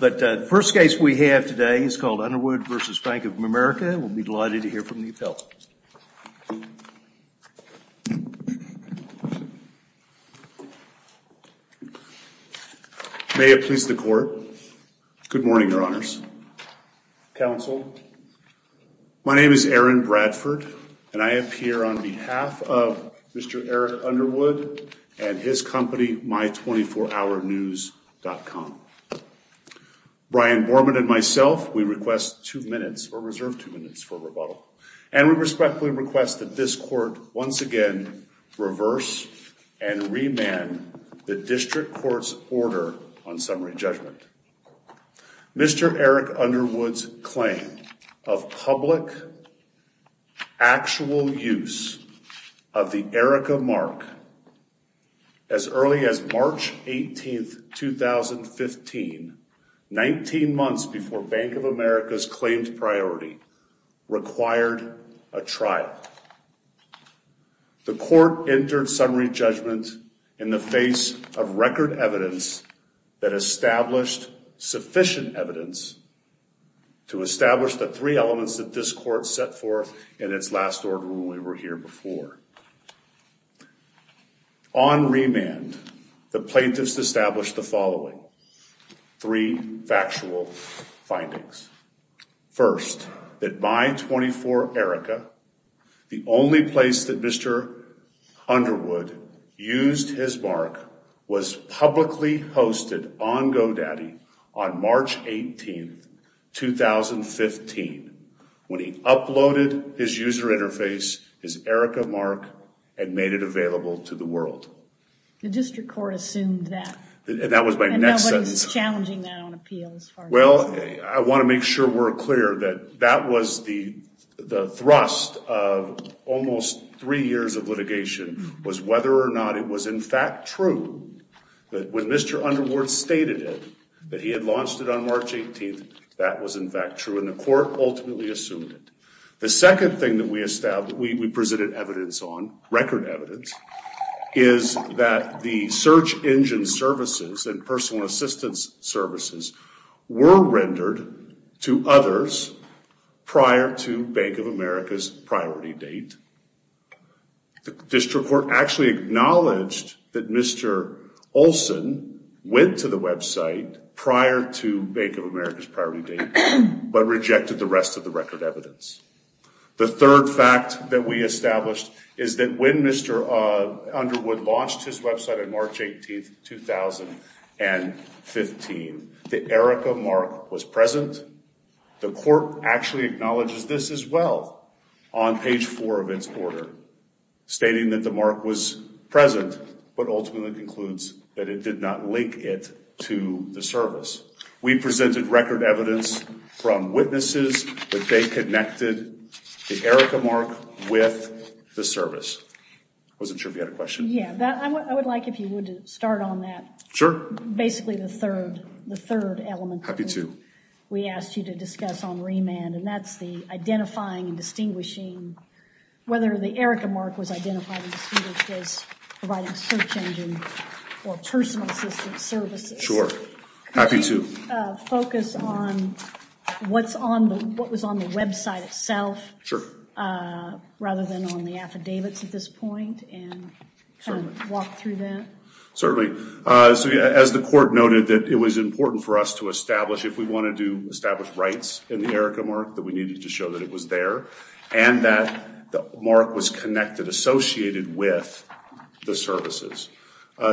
May it please the Court. Good morning, Your Honors. Counsel, my name is Aaron Bradford, and I am here on behalf of Mr. Eric Underwood and his company My24HourNews.com. Brian Borman and myself, we request two minutes, or reserve two minutes for rebuttal. And we respectfully request that this Court once again reverse and remand the District Court's order on summary judgment. Mr. Eric Underwood's claim of public, actual use of the Erika Mark as early as March 18, 2015, 19 months before Bank of America's claimed priority, required a trial. The Court entered summary judgment in the face of record evidence that established sufficient evidence to establish the three elements that this Court set forth in its last order when we were here before. On remand, the plaintiffs established the following three factual findings. First, that My24Erika, the only place that Mr. Underwood used his mark, was publicly hosted on GoDaddy on March 18, 2015, when he uploaded his user interface, his Erika Mark, and made it available to the world. The District Court assumed that. And that was my next sentence. Well, I want to make sure we're clear that that was the thrust of almost three years of litigation, was whether or not it was in fact true that when Mr. Underwood stated it, that he had launched it on March 18, that was in fact true, and the Court ultimately assumed it. The second thing that we presented evidence on, record evidence, is that the search engine services and personal assistance services were rendered to others prior to Bank of America's priority date. The District Court actually acknowledged that Mr. Olson went to the website prior to Bank of America's priority date, but rejected the rest of the record evidence. The third fact that we established is that when Mr. Underwood launched his website on March 18, 2015, the Erika Mark was present. The Court actually acknowledges this as well on page four of its order, stating that the mark was present, but ultimately concludes that it did not link it to the service. We presented record evidence from witnesses that they connected the Erika Mark with the service. I wasn't sure if you had a question. Yeah, I would like, if you would, to start on that. Sure. Basically the third element. Happy to. We asked you to discuss on remand, and that's the identifying and distinguishing, whether the Erika Mark was identified as providing search engine or personal assistance services. Sure. Happy to. Can you focus on what was on the website itself, rather than on the affidavits at this point, and walk through that? Certainly. As the Court noted, it was important for us to establish, if we wanted to establish rights in the Erika Mark, that we needed to show that it was there, and that the mark was connected, associated with the services.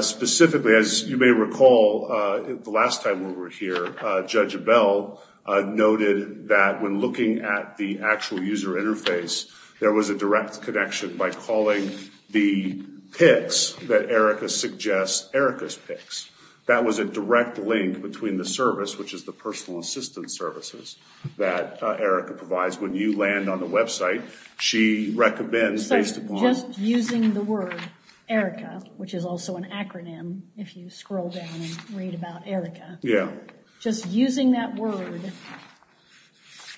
Specifically, as you may recall, the last time we were here, Judge Bell noted that when looking at the actual user interface, there was a direct connection by calling the PICs that Erika suggests Erika's PICs. That was a direct link between the service, which is the personal assistance services that Erika provides. When you land on the website, she recommends based upon- there's also an acronym if you scroll down and read about Erika. Yeah. Just using that word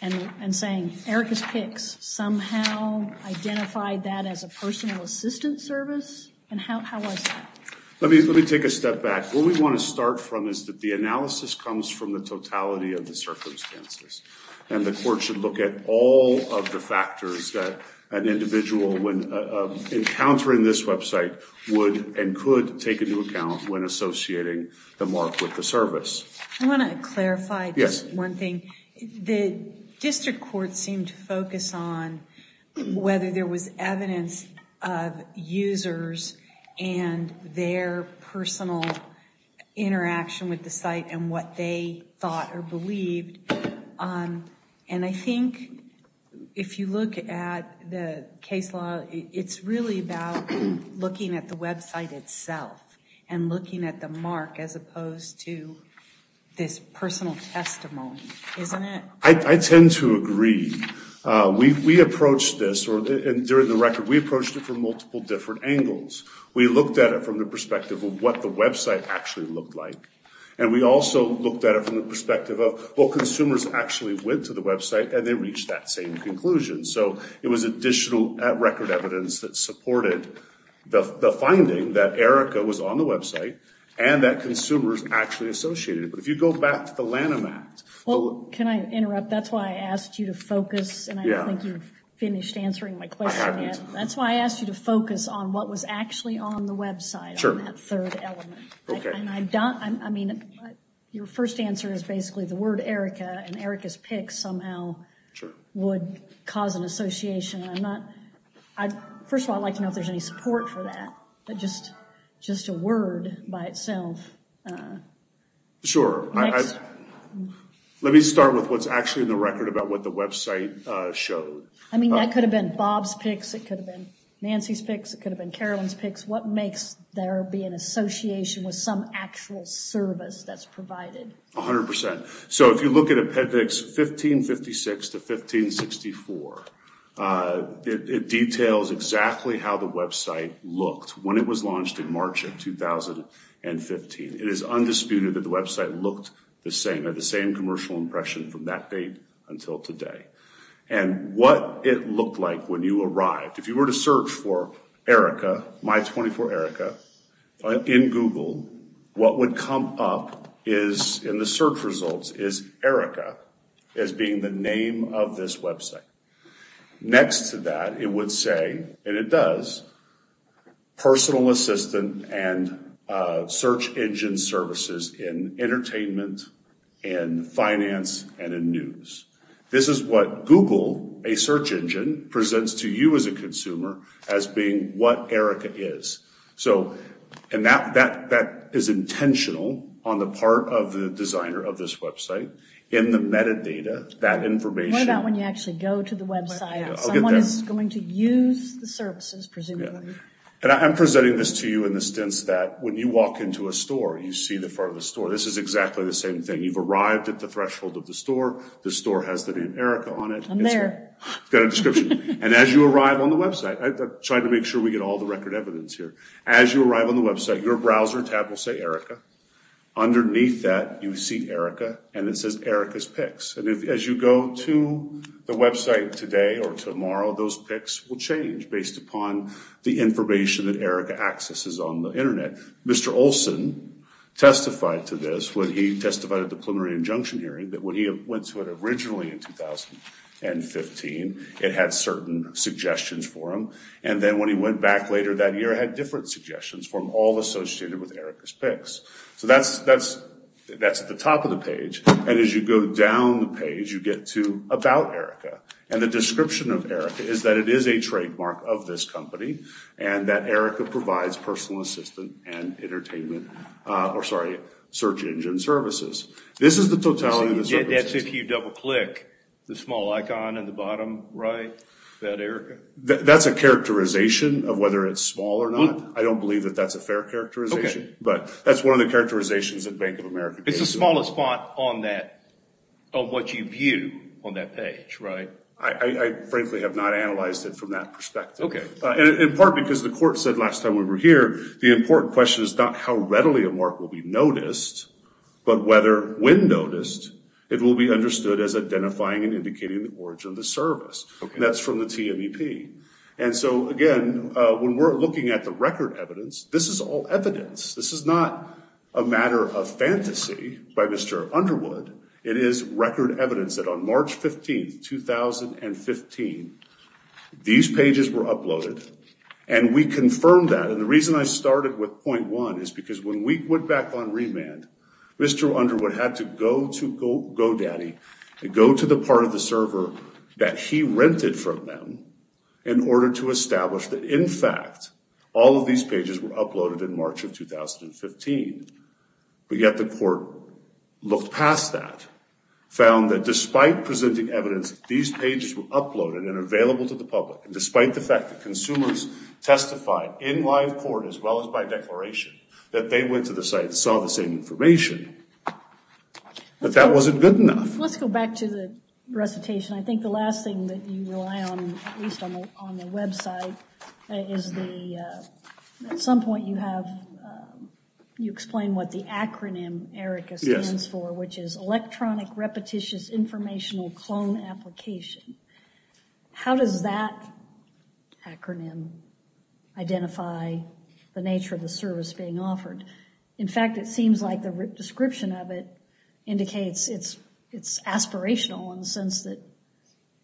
and saying Erika's PICs somehow identified that as a personal assistance service? How was that? Let me take a step back. Where we want to start from is that the analysis comes from the totality of the circumstances, and the Court should look at all of the factors that an individual, when encountering this website, would and could take into account when associating the mark with the service. I want to clarify just one thing. The District Court seemed to focus on whether there was evidence of users and their personal interaction with the site and what they thought or believed. And I think if you look at the case law, it's really about looking at the website itself and looking at the mark as opposed to this personal testimony, isn't it? I tend to agree. We approached this, and during the record, we approached it from multiple different angles. We looked at it from the perspective of what the website actually looked like, and we also looked at it from the perspective of what consumers actually went to the website, and they reached that same conclusion. So it was additional record evidence that supported the finding that Erika was on the website and that consumers actually associated it. But if you go back to the Lanham Act... Well, can I interrupt? That's why I asked you to focus, and I don't think you've finished answering my question yet. That's why I asked you to focus on what was actually on the website, on that third element. Okay. I mean, your first answer is basically the word Erika, and Erika's pics somehow would cause an association. First of all, I'd like to know if there's any support for that, just a word by itself. Sure. Let me start with what's actually in the record about what the website showed. I mean, that could have been Bob's pics. It could have been Nancy's pics. It could have been Carolyn's pics. What makes there be an association with some actual service that's provided? A hundred percent. So if you look at Appendix 1556 to 1564, it details exactly how the website looked when it was launched in March of 2015. It is undisputed that the website looked the same, had the same commercial impression from that date until today. And what it looked like when you arrived, if you were to search for Erika, My 24 Erika, in Google, what would come up in the search results is Erika as being the name of this website. Next to that, it would say, and it does, personal assistant and search engine services in entertainment, in finance, and in news. This is what Google, a search engine, presents to you as a consumer as being what Erika is. And that is intentional on the part of the designer of this website in the metadata, that information. What about when you actually go to the website? Someone is going to use the services, presumably. And I'm presenting this to you in the sense that when you walk into a store, you see the front of the store. This is exactly the same thing. You've arrived at the threshold of the store. The store has the name Erika on it. I'm there. It's got a description. And as you arrive on the website, I'm trying to make sure we get all the record evidence here. As you arrive on the website, your browser tab will say Erika. Underneath that, you see Erika, and it says Erika's pics. And as you go to the website today or tomorrow, those pics will change based upon the information that Erika accesses on the Internet. And Mr. Olson testified to this when he testified at the preliminary injunction hearing that when he went to it originally in 2015, it had certain suggestions for him. And then when he went back later that year, it had different suggestions for him, all associated with Erika's pics. So that's at the top of the page. And as you go down the page, you get to About Erika. And the description of Erika is that it is a trademark of this company and that Erika provides personal assistant and entertainment or, sorry, search engine services. This is the totality of the services. That's if you double-click the small icon in the bottom right, that Erika? That's a characterization of whether it's small or not. I don't believe that that's a fair characterization. Okay. But that's one of the characterizations that Bank of America gives you. It's the smallest font on that, of what you view on that page, right? I frankly have not analyzed it from that perspective. Okay. In part because the court said last time we were here, the important question is not how readily a mark will be noticed, but whether when noticed, it will be understood as identifying and indicating the origin of the service. That's from the TMEP. And so, again, when we're looking at the record evidence, this is all evidence. This is not a matter of fantasy by Mr. Underwood. It is record evidence that on March 15, 2015, these pages were uploaded, and we confirmed that. And the reason I started with point one is because when we went back on remand, Mr. Underwood had to go to GoDaddy and go to the part of the server that he rented from them in order to establish that, in fact, all of these pages were uploaded in March of 2015. But yet the court looked past that, found that despite presenting evidence that these pages were uploaded and available to the public, and despite the fact that consumers testified in live court as well as by declaration that they went to the site and saw the same information, that that wasn't good enough. Let's go back to the recitation. I think the last thing that you rely on, at least on the website, is the – at some point you have – you explain what the acronym, Erica, stands for, which is Electronic Repetitious Informational Clone Application. How does that acronym identify the nature of the service being offered? In fact, it seems like the description of it indicates it's aspirational in the sense that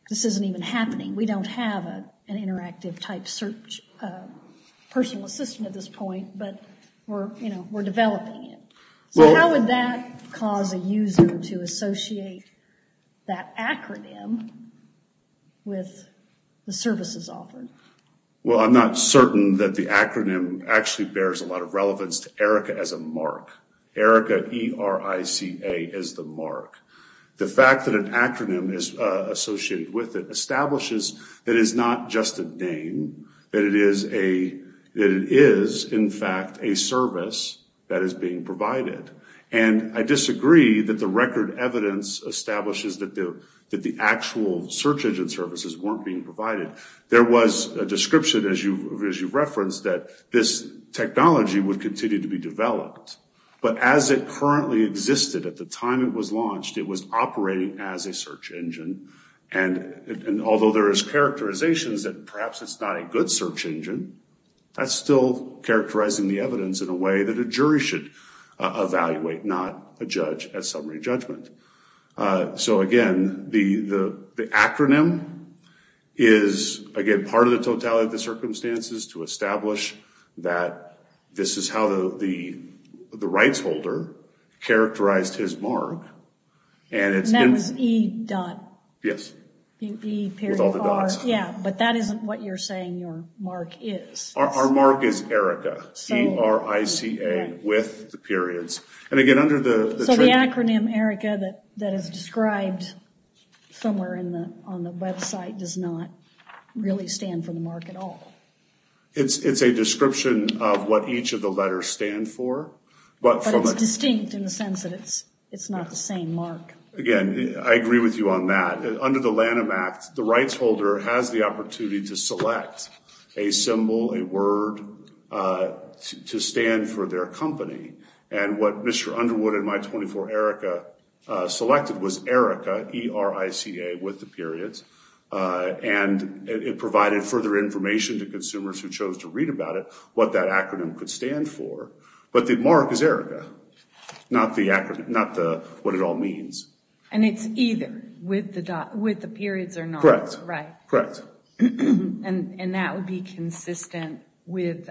this isn't even happening. We don't have an interactive type search personal assistant at this point, but we're developing it. So how would that cause a user to associate that acronym with the services offered? Well, I'm not certain that the acronym actually bears a lot of relevance to Erica as a mark. Erica, E-R-I-C-A, is the mark. The fact that an acronym is associated with it establishes that it is not just a name, that it is a – that it is, in fact, a service that is being provided. And I disagree that the record evidence establishes that the actual search engine services weren't being provided. There was a description, as you've referenced, that this technology would continue to be developed. But as it currently existed at the time it was launched, it was operating as a search engine. And although there is characterizations that perhaps it's not a good search engine, that's still characterizing the evidence in a way that a jury should evaluate, not a judge at summary judgment. So again, the acronym is, again, part of the totality of the circumstances to establish that this is how the rights holder characterized his mark. And that's E dot. Yes. E period R. With all the dots on it. Yeah, but that isn't what you're saying your mark is. Our mark is Erica, E-R-I-C-A, with the periods. So the acronym Erica that is described somewhere on the website does not really stand for the mark at all. It's a description of what each of the letters stand for. But it's distinct in the sense that it's not the same mark. Again, I agree with you on that. Under the Lanham Act, the rights holder has the opportunity to select a symbol, a word to stand for their company. And what Mr. Underwood and my 24 Erica selected was Erica, E-R-I-C-A, with the periods. And it provided further information to consumers who chose to read about it, what that acronym could stand for. But the mark is Erica, not what it all means. And it's either with the periods or not. Correct. Right. Correct. And that would be consistent with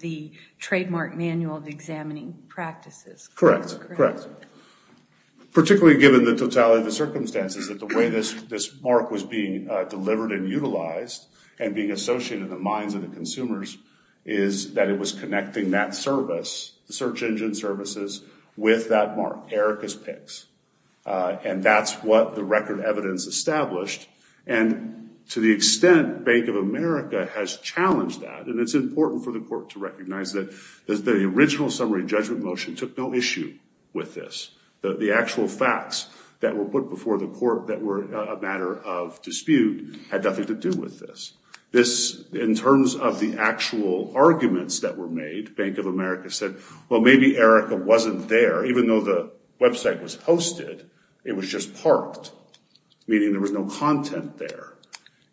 the Trademark Manual of Examining Practices. Correct. Correct. Particularly given the totality of the circumstances that the way this mark was being delivered and utilized and being associated in the minds of the consumers is that it was connecting that service, the search engine services, with that mark, Erica's PICS. And that's what the record evidence established. And to the extent Bank of America has challenged that, and it's important for the court to recognize that the original summary judgment motion took no issue with this. The actual facts that were put before the court that were a matter of dispute had nothing to do with this. This, in terms of the actual arguments that were made, Bank of America said, well, maybe Erica wasn't there. Even though the website was hosted, it was just parked, meaning there was no content there.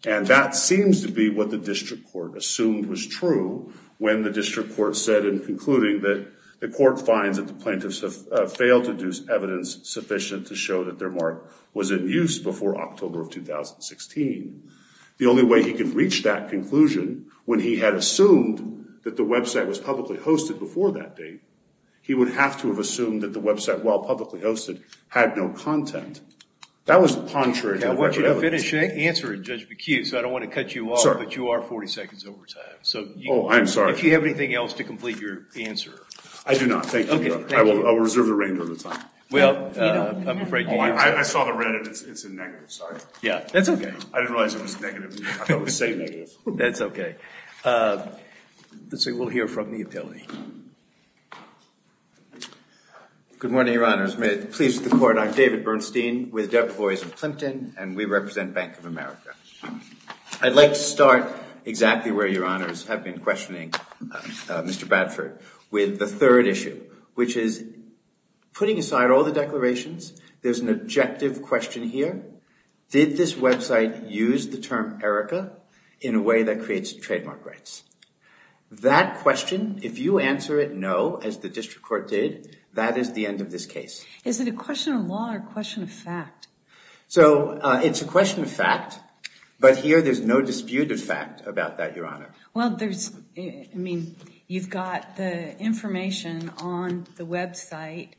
And that seems to be what the district court assumed was true when the district court said in concluding that the court finds that the plaintiffs have failed to do evidence sufficient to show that their mark was in use before October of 2016. The only way he could reach that conclusion when he had assumed that the website was publicly hosted before that date, he would have to have assumed that the website, while publicly hosted, had no content. That was contrary to the record evidence. I want you to finish answering, Judge McHugh, so I don't want to cut you off. But you are 40 seconds over time. Oh, I'm sorry. If you have anything else to complete your answer. I do not. Thank you, Your Honor. I will reserve the remainder of the time. Well, I'm afraid you have to. I saw the red and it's a negative, sorry. Yeah, that's okay. I didn't realize it was negative. I thought it was saying negative. That's okay. Let's see, we'll hear from the appealee. Good morning, Your Honors. May it please the court, I'm David Bernstein with Deputies of Clinton and we represent Bank of America. I'd like to start exactly where Your Honors have been questioning Mr. Bradford with the third issue, which is putting aside all the declarations, there's an objective question here. Did this website use the term Erica in a way that creates trademark rights? That question, if you answer it no, as the district court did, that is the end of this case. Is it a question of law or a question of fact? So, it's a question of fact, but here there's no dispute of fact about that, Your Honor. Well, there's, I mean, you've got the information on the website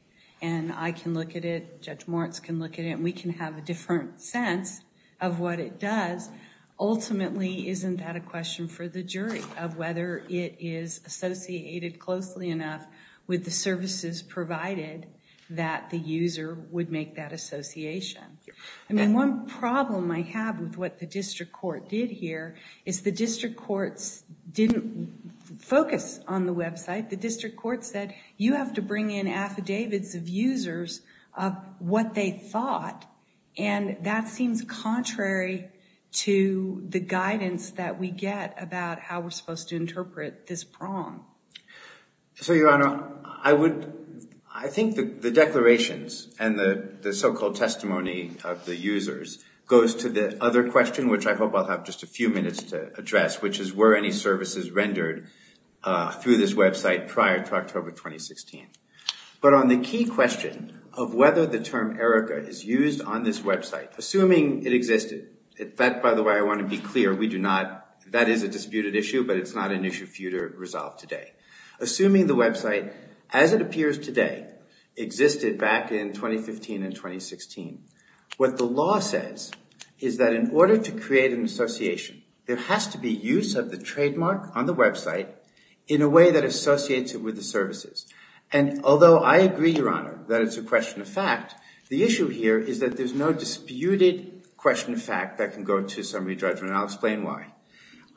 and I can look at it, Judge Moritz can look at it, and we can have a different sense of what it does. Ultimately, isn't that a question for the jury of whether it is associated closely enough with the services provided that the user would make that association? I mean, one problem I have with what the district court did here is the district courts didn't focus on the website. The district court said, you have to bring in affidavits of users of what they thought, and that seems contrary to the guidance that we get about how we're supposed to interpret this prong. So, Your Honor, I would, I think the declarations and the so-called testimony of the users goes to the other question, which I hope I'll have just a few minutes to address, which is were any services rendered through this website prior to October 2016? But on the key question of whether the term ERICA is used on this website, assuming it existed, that, by the way, I want to be clear, we do not, that is a disputed issue, but it's not an issue for you to resolve today. Assuming the website, as it appears today, existed back in 2015 and 2016, what the law says is that in order to create an association, there has to be use of the trademark on the website in a way that associates it with the services. And although I agree, Your Honor, that it's a question of fact, the issue here is that there's no disputed question of fact that can go to summary judgment, and I'll explain why.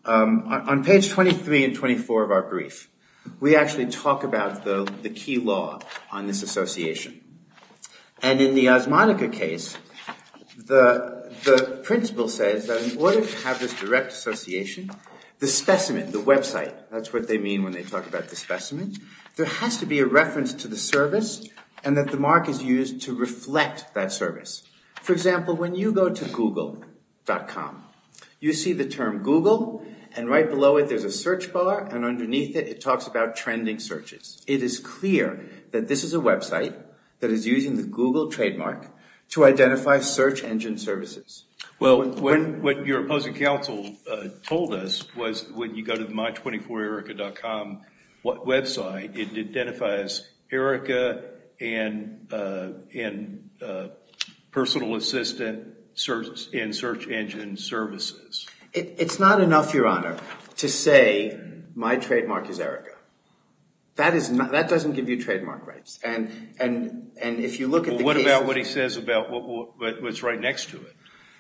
On page 23 and 24 of our brief, we actually talk about the key law on this association. And in the Osmonica case, the principle says that in order to have this direct association, the specimen, the website, that's what they mean when they talk about the specimen, there has to be a reference to the service and that the mark is used to reflect that service. For example, when you go to Google.com, you see the term Google, and right below it, there's a search bar, and underneath it, it talks about trending searches. It is clear that this is a website that is using the Google trademark to identify search engine services. Well, what your opposing counsel told us was when you go to the My24ERICA.com website, it identifies ERICA and personal assistant and search engine services. It's not enough, Your Honor, to say my trademark is ERICA. That doesn't give you trademark rights. Well, what about what he says about what's right next to it?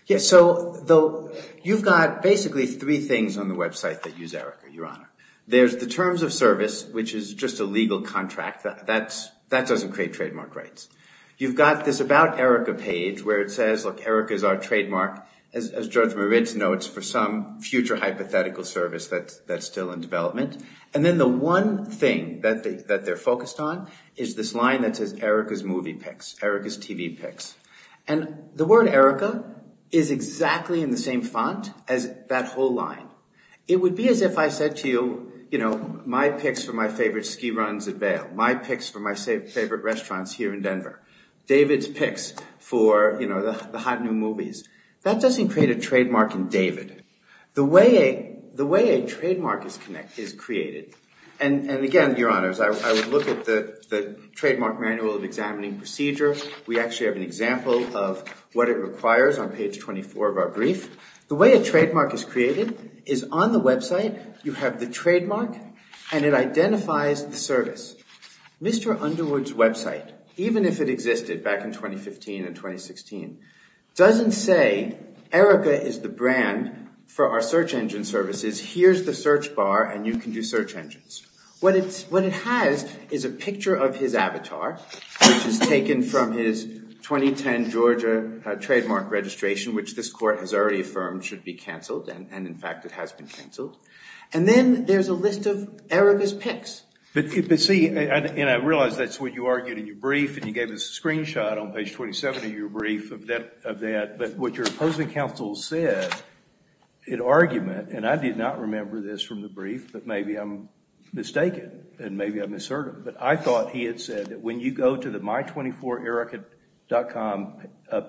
Yeah, so you've got basically three things on the website that use ERICA, Your Honor. There's the terms of service, which is just a legal contract. That doesn't create trademark rights. You've got this about ERICA page where it says, look, ERICA is our trademark, as George Moritz notes, for some future hypothetical service that's still in development. And then the one thing that they're focused on is this line that says ERICA's movie picks, ERICA's TV picks. And the word ERICA is exactly in the same font as that whole line. It would be as if I said to you, you know, my picks for my favorite ski runs at Vail, my picks for my favorite restaurants here in Denver, David's picks for, you know, the hot new movies. That doesn't create a trademark in David. The way a trademark is created, and again, Your Honors, I would look at the Trademark Manual of Examining Procedure. We actually have an example of what it requires on page 24 of our brief. The way a trademark is created is on the website you have the trademark and it identifies the service. Mr. Underwood's website, even if it existed back in 2015 and 2016, doesn't say ERICA is the brand for our search engine services. Here's the search bar and you can do search engines. What it has is a picture of his avatar, which is taken from his 2010 Georgia trademark registration, which this court has already affirmed should be canceled, and in fact it has been canceled. And then there's a list of ERICA's picks. But see, and I realize that's what you argued in your brief and you gave us a screenshot on page 27 of your brief of that. But what your opposing counsel said in argument, and I did not remember this from the brief, but maybe I'm mistaken and maybe I misheard it. But I thought he had said that when you go to the my24erica.com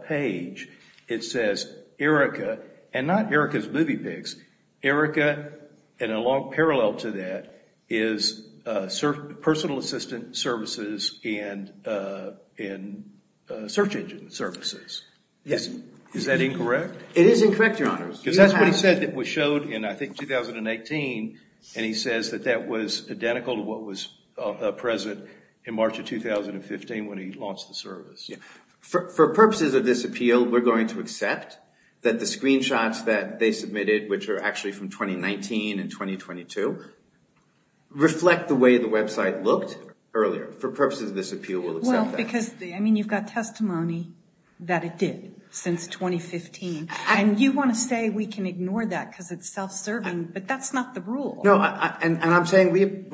page, it says ERICA, and not ERICA's movie picks. ERICA, in a long parallel to that, is personal assistant services and search engine services. Yes. Is that incorrect? It is incorrect, Your Honors. Because that's what he said that was showed in, I think, 2018, and he says that that was identical to what was present in March of 2015 when he launched the service. For purposes of this appeal, we're going to accept that the screenshots that they submitted, which are actually from 2019 and 2022, reflect the way the website looked earlier. For purposes of this appeal, we'll accept that. Because, I mean, you've got testimony that it did since 2015, and you want to say we can ignore that because it's self-serving, but that's not the rule. No, and I'm saying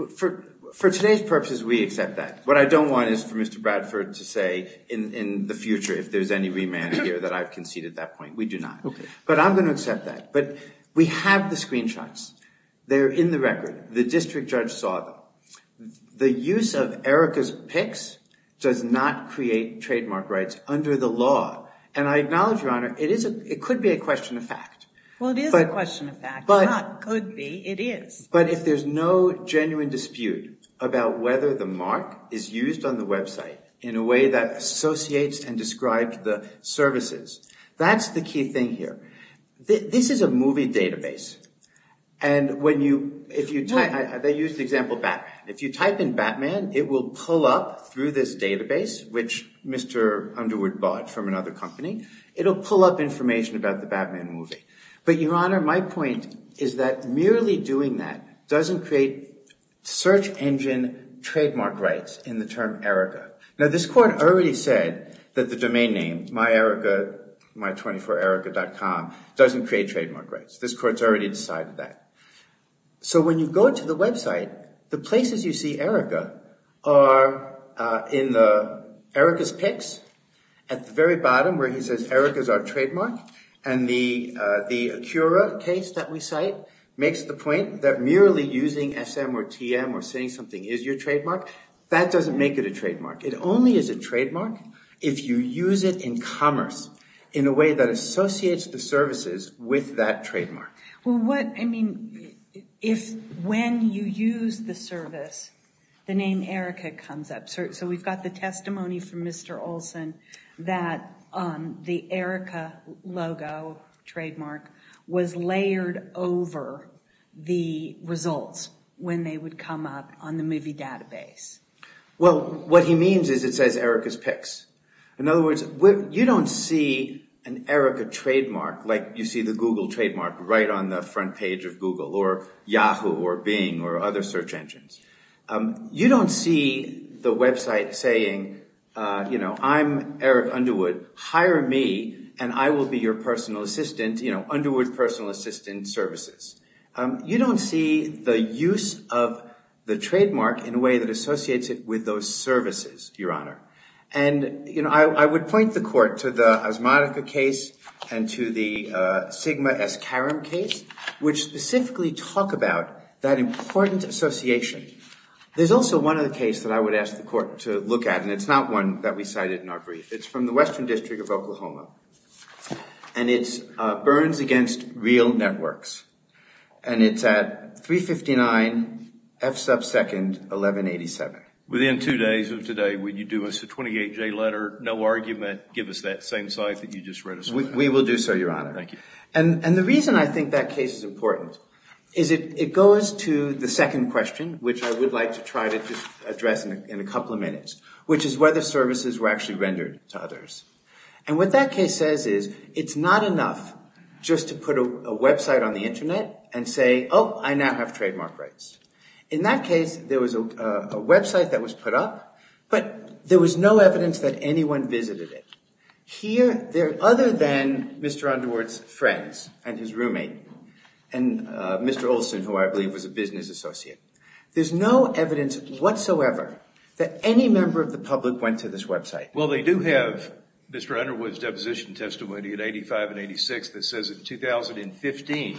for today's purposes, we accept that. What I don't want is for Mr. Bradford to say in the future if there's any remand here that I've conceded at that point. We do not. Okay. But I'm going to accept that. But we have the screenshots. They're in the record. The district judge saw them. The use of Erica's pics does not create trademark rights under the law. And I acknowledge, Your Honor, it could be a question of fact. Well, it is a question of fact. It's not could be. It is. But if there's no genuine dispute about whether the mark is used on the website in a way that associates and describes the services, that's the key thing here. This is a movie database. And they used the example of Batman. If you type in Batman, it will pull up through this database, which Mr. Underwood bought from another company, it'll pull up information about the Batman movie. But, Your Honor, my point is that merely doing that doesn't create search engine trademark rights in the term Erica. Now, this court already said that the domain name, myerica, my24erica.com, doesn't create trademark rights. This court's already decided that. So when you go to the website, the places you see Erica are in the Erica's pics at the very bottom where he says Erica's our trademark. And the Acura case that we cite makes the point that merely using SM or TM or saying something is your trademark. It only is a trademark if you use it in commerce in a way that associates the services with that trademark. Well, what, I mean, if when you use the service, the name Erica comes up. So we've got the testimony from Mr. Olson that the Erica logo trademark was layered over the results when they would come up on the movie database. Well, what he means is it says Erica's pics. In other words, you don't see an Erica trademark like you see the Google trademark right on the front page of Google or Yahoo or Bing or other search engines. You don't see the website saying, you know, I'm Eric Underwood. Hire me and I will be your personal assistant. You know, Underwood personal assistant services. You don't see the use of the trademark in a way that associates it with those services, Your Honor. And, you know, I would point the court to the Asmodica case and to the Sigma S. Karam case, which specifically talk about that important association. There's also one other case that I would ask the court to look at. And it's not one that we cited in our brief. It's from the Western District of Oklahoma. And it's Burns Against Real Networks. And it's at 359 F sub second 1187. Within two days of today, would you do us a 28-J letter, no argument, give us that same site that you just read us? We will do so, Your Honor. Thank you. And the reason I think that case is important is it goes to the second question, which I would like to try to address in a couple of minutes, which is whether services were actually rendered to others. And what that case says is it's not enough just to put a website on the Internet and say, oh, I now have trademark rights. In that case, there was a website that was put up, but there was no evidence that anyone visited it. Here, other than Mr. Underwood's friends and his roommate and Mr. Olson, who I believe was a business associate, there's no evidence whatsoever that any member of the public went to this website. Well, they do have Mr. Underwood's deposition testimony at 85 and 86 that says in 2015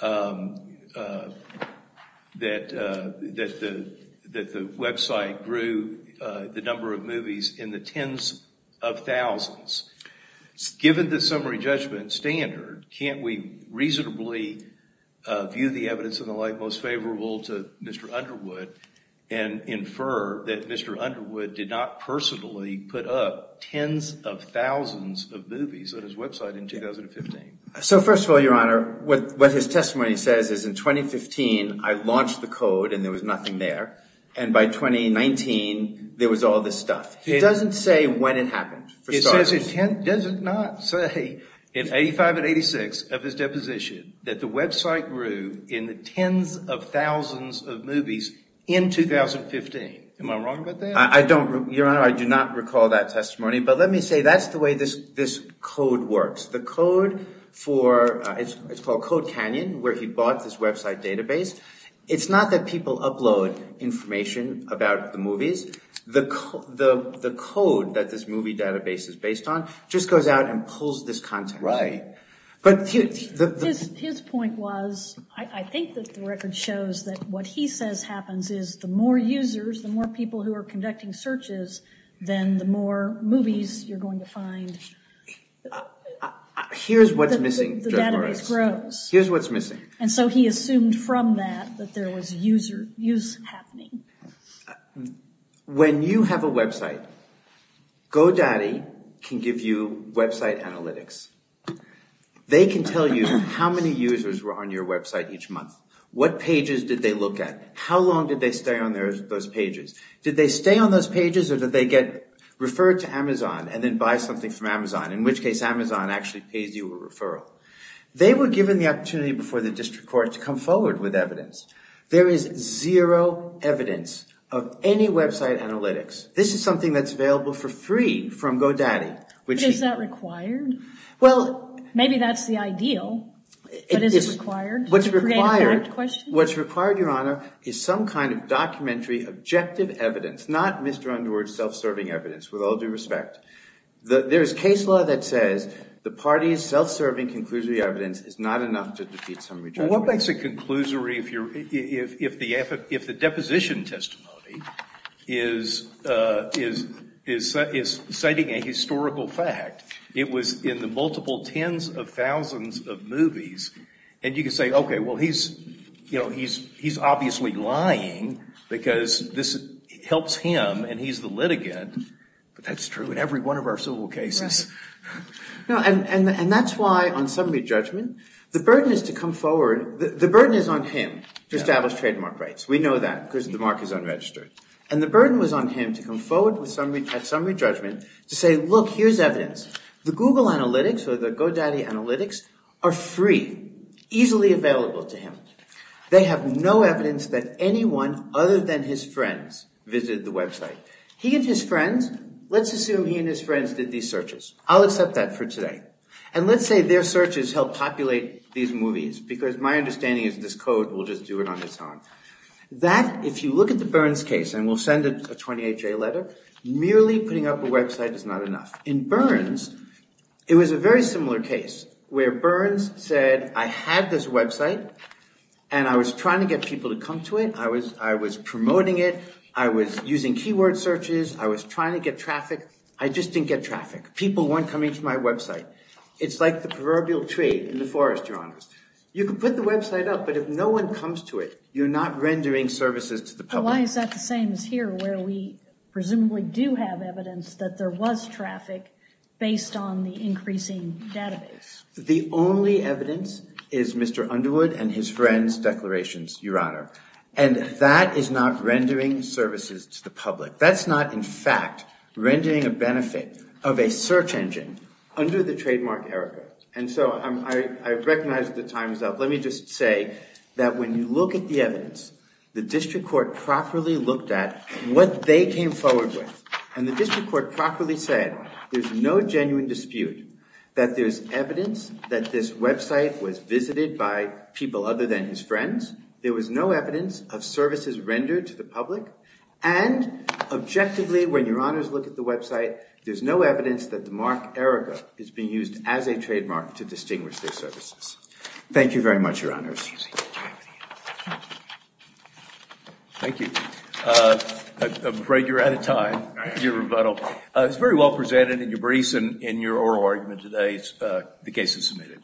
that the website grew the number of movies in the tens of thousands. Given the summary judgment standard, can't we reasonably view the evidence and the like most favorable to Mr. Underwood and infer that Mr. Underwood did not personally put up tens of thousands of movies on his website in 2015? So first of all, Your Honor, what his testimony says is in 2015, I launched the code and there was nothing there. And by 2019, there was all this stuff. It doesn't say when it happened, for starters. Does it not say in 85 and 86 of his deposition that the website grew in the tens of thousands of movies in 2015? Am I wrong about that? Your Honor, I do not recall that testimony. But let me say that's the way this code works. The code for – it's called Code Canyon, where he bought this website database. It's not that people upload information about the movies. The code that this movie database is based on just goes out and pulls this content. Right. His point was I think that the record shows that what he says happens is the more users, the more people who are conducting searches, then the more movies you're going to find. Here's what's missing, Judge Morris. The database grows. Here's what's missing. And so he assumed from that that there was use happening. When you have a website, GoDaddy can give you website analytics. They can tell you how many users were on your website each month. What pages did they look at? How long did they stay on those pages? Did they stay on those pages or did they get referred to Amazon and then buy something from Amazon, in which case Amazon actually pays you a referral? They were given the opportunity before the district court to come forward with evidence. There is zero evidence of any website analytics. This is something that's available for free from GoDaddy. Is that required? Well – Maybe that's the ideal, but is it required to create a correct question? What's required, Your Honor, is some kind of documentary objective evidence, not Mr. Underwood's self-serving evidence, with all due respect. There is case law that says the party's self-serving conclusory evidence is not enough to defeat summary judgment. Well, what makes it conclusory if the deposition testimony is citing a historical fact? It was in the multiple tens of thousands of movies. And you can say, okay, well, he's obviously lying because this helps him and he's the litigant. But that's true in every one of our civil cases. And that's why on summary judgment, the burden is to come forward – the burden is on him to establish trademark rights. We know that because the mark is unregistered. And the burden was on him to come forward at summary judgment to say, look, here's evidence. The Google analytics or the GoDaddy analytics are free, easily available to him. They have no evidence that anyone other than his friends visited the website. He and his friends – let's assume he and his friends did these searches. I'll accept that for today. And let's say their searches helped populate these movies because my understanding is this code will just do it on its own. That – if you look at the Burns case, and we'll send a 28-J letter, merely putting up a website is not enough. In Burns, it was a very similar case where Burns said, I had this website and I was trying to get people to come to it. I was promoting it. I was using keyword searches. I was trying to get traffic. I just didn't get traffic. People weren't coming to my website. It's like the proverbial tree in the forest, Your Honor. You can put the website up, but if no one comes to it, you're not rendering services to the public. But why is that the same as here where we presumably do have evidence that there was traffic based on the increasing database? The only evidence is Mr. Underwood and his friend's declarations, Your Honor. And that is not rendering services to the public. That's not, in fact, rendering a benefit of a search engine under the trademark error code. And so I recognize that the time is up. Let me just say that when you look at the evidence, the district court properly looked at what they came forward with. And the district court properly said there's no genuine dispute that there's evidence that this website was visited by people other than his friends. There was no evidence of services rendered to the public. And objectively, when Your Honors look at the website, there's no evidence that the mark error code is being used as a trademark to distinguish their services. Thank you very much, Your Honors. Thank you. I'm afraid you're out of time. Thank you for your rebuttal. It's very well presented in your briefs and in your oral argument today, the case is submitted.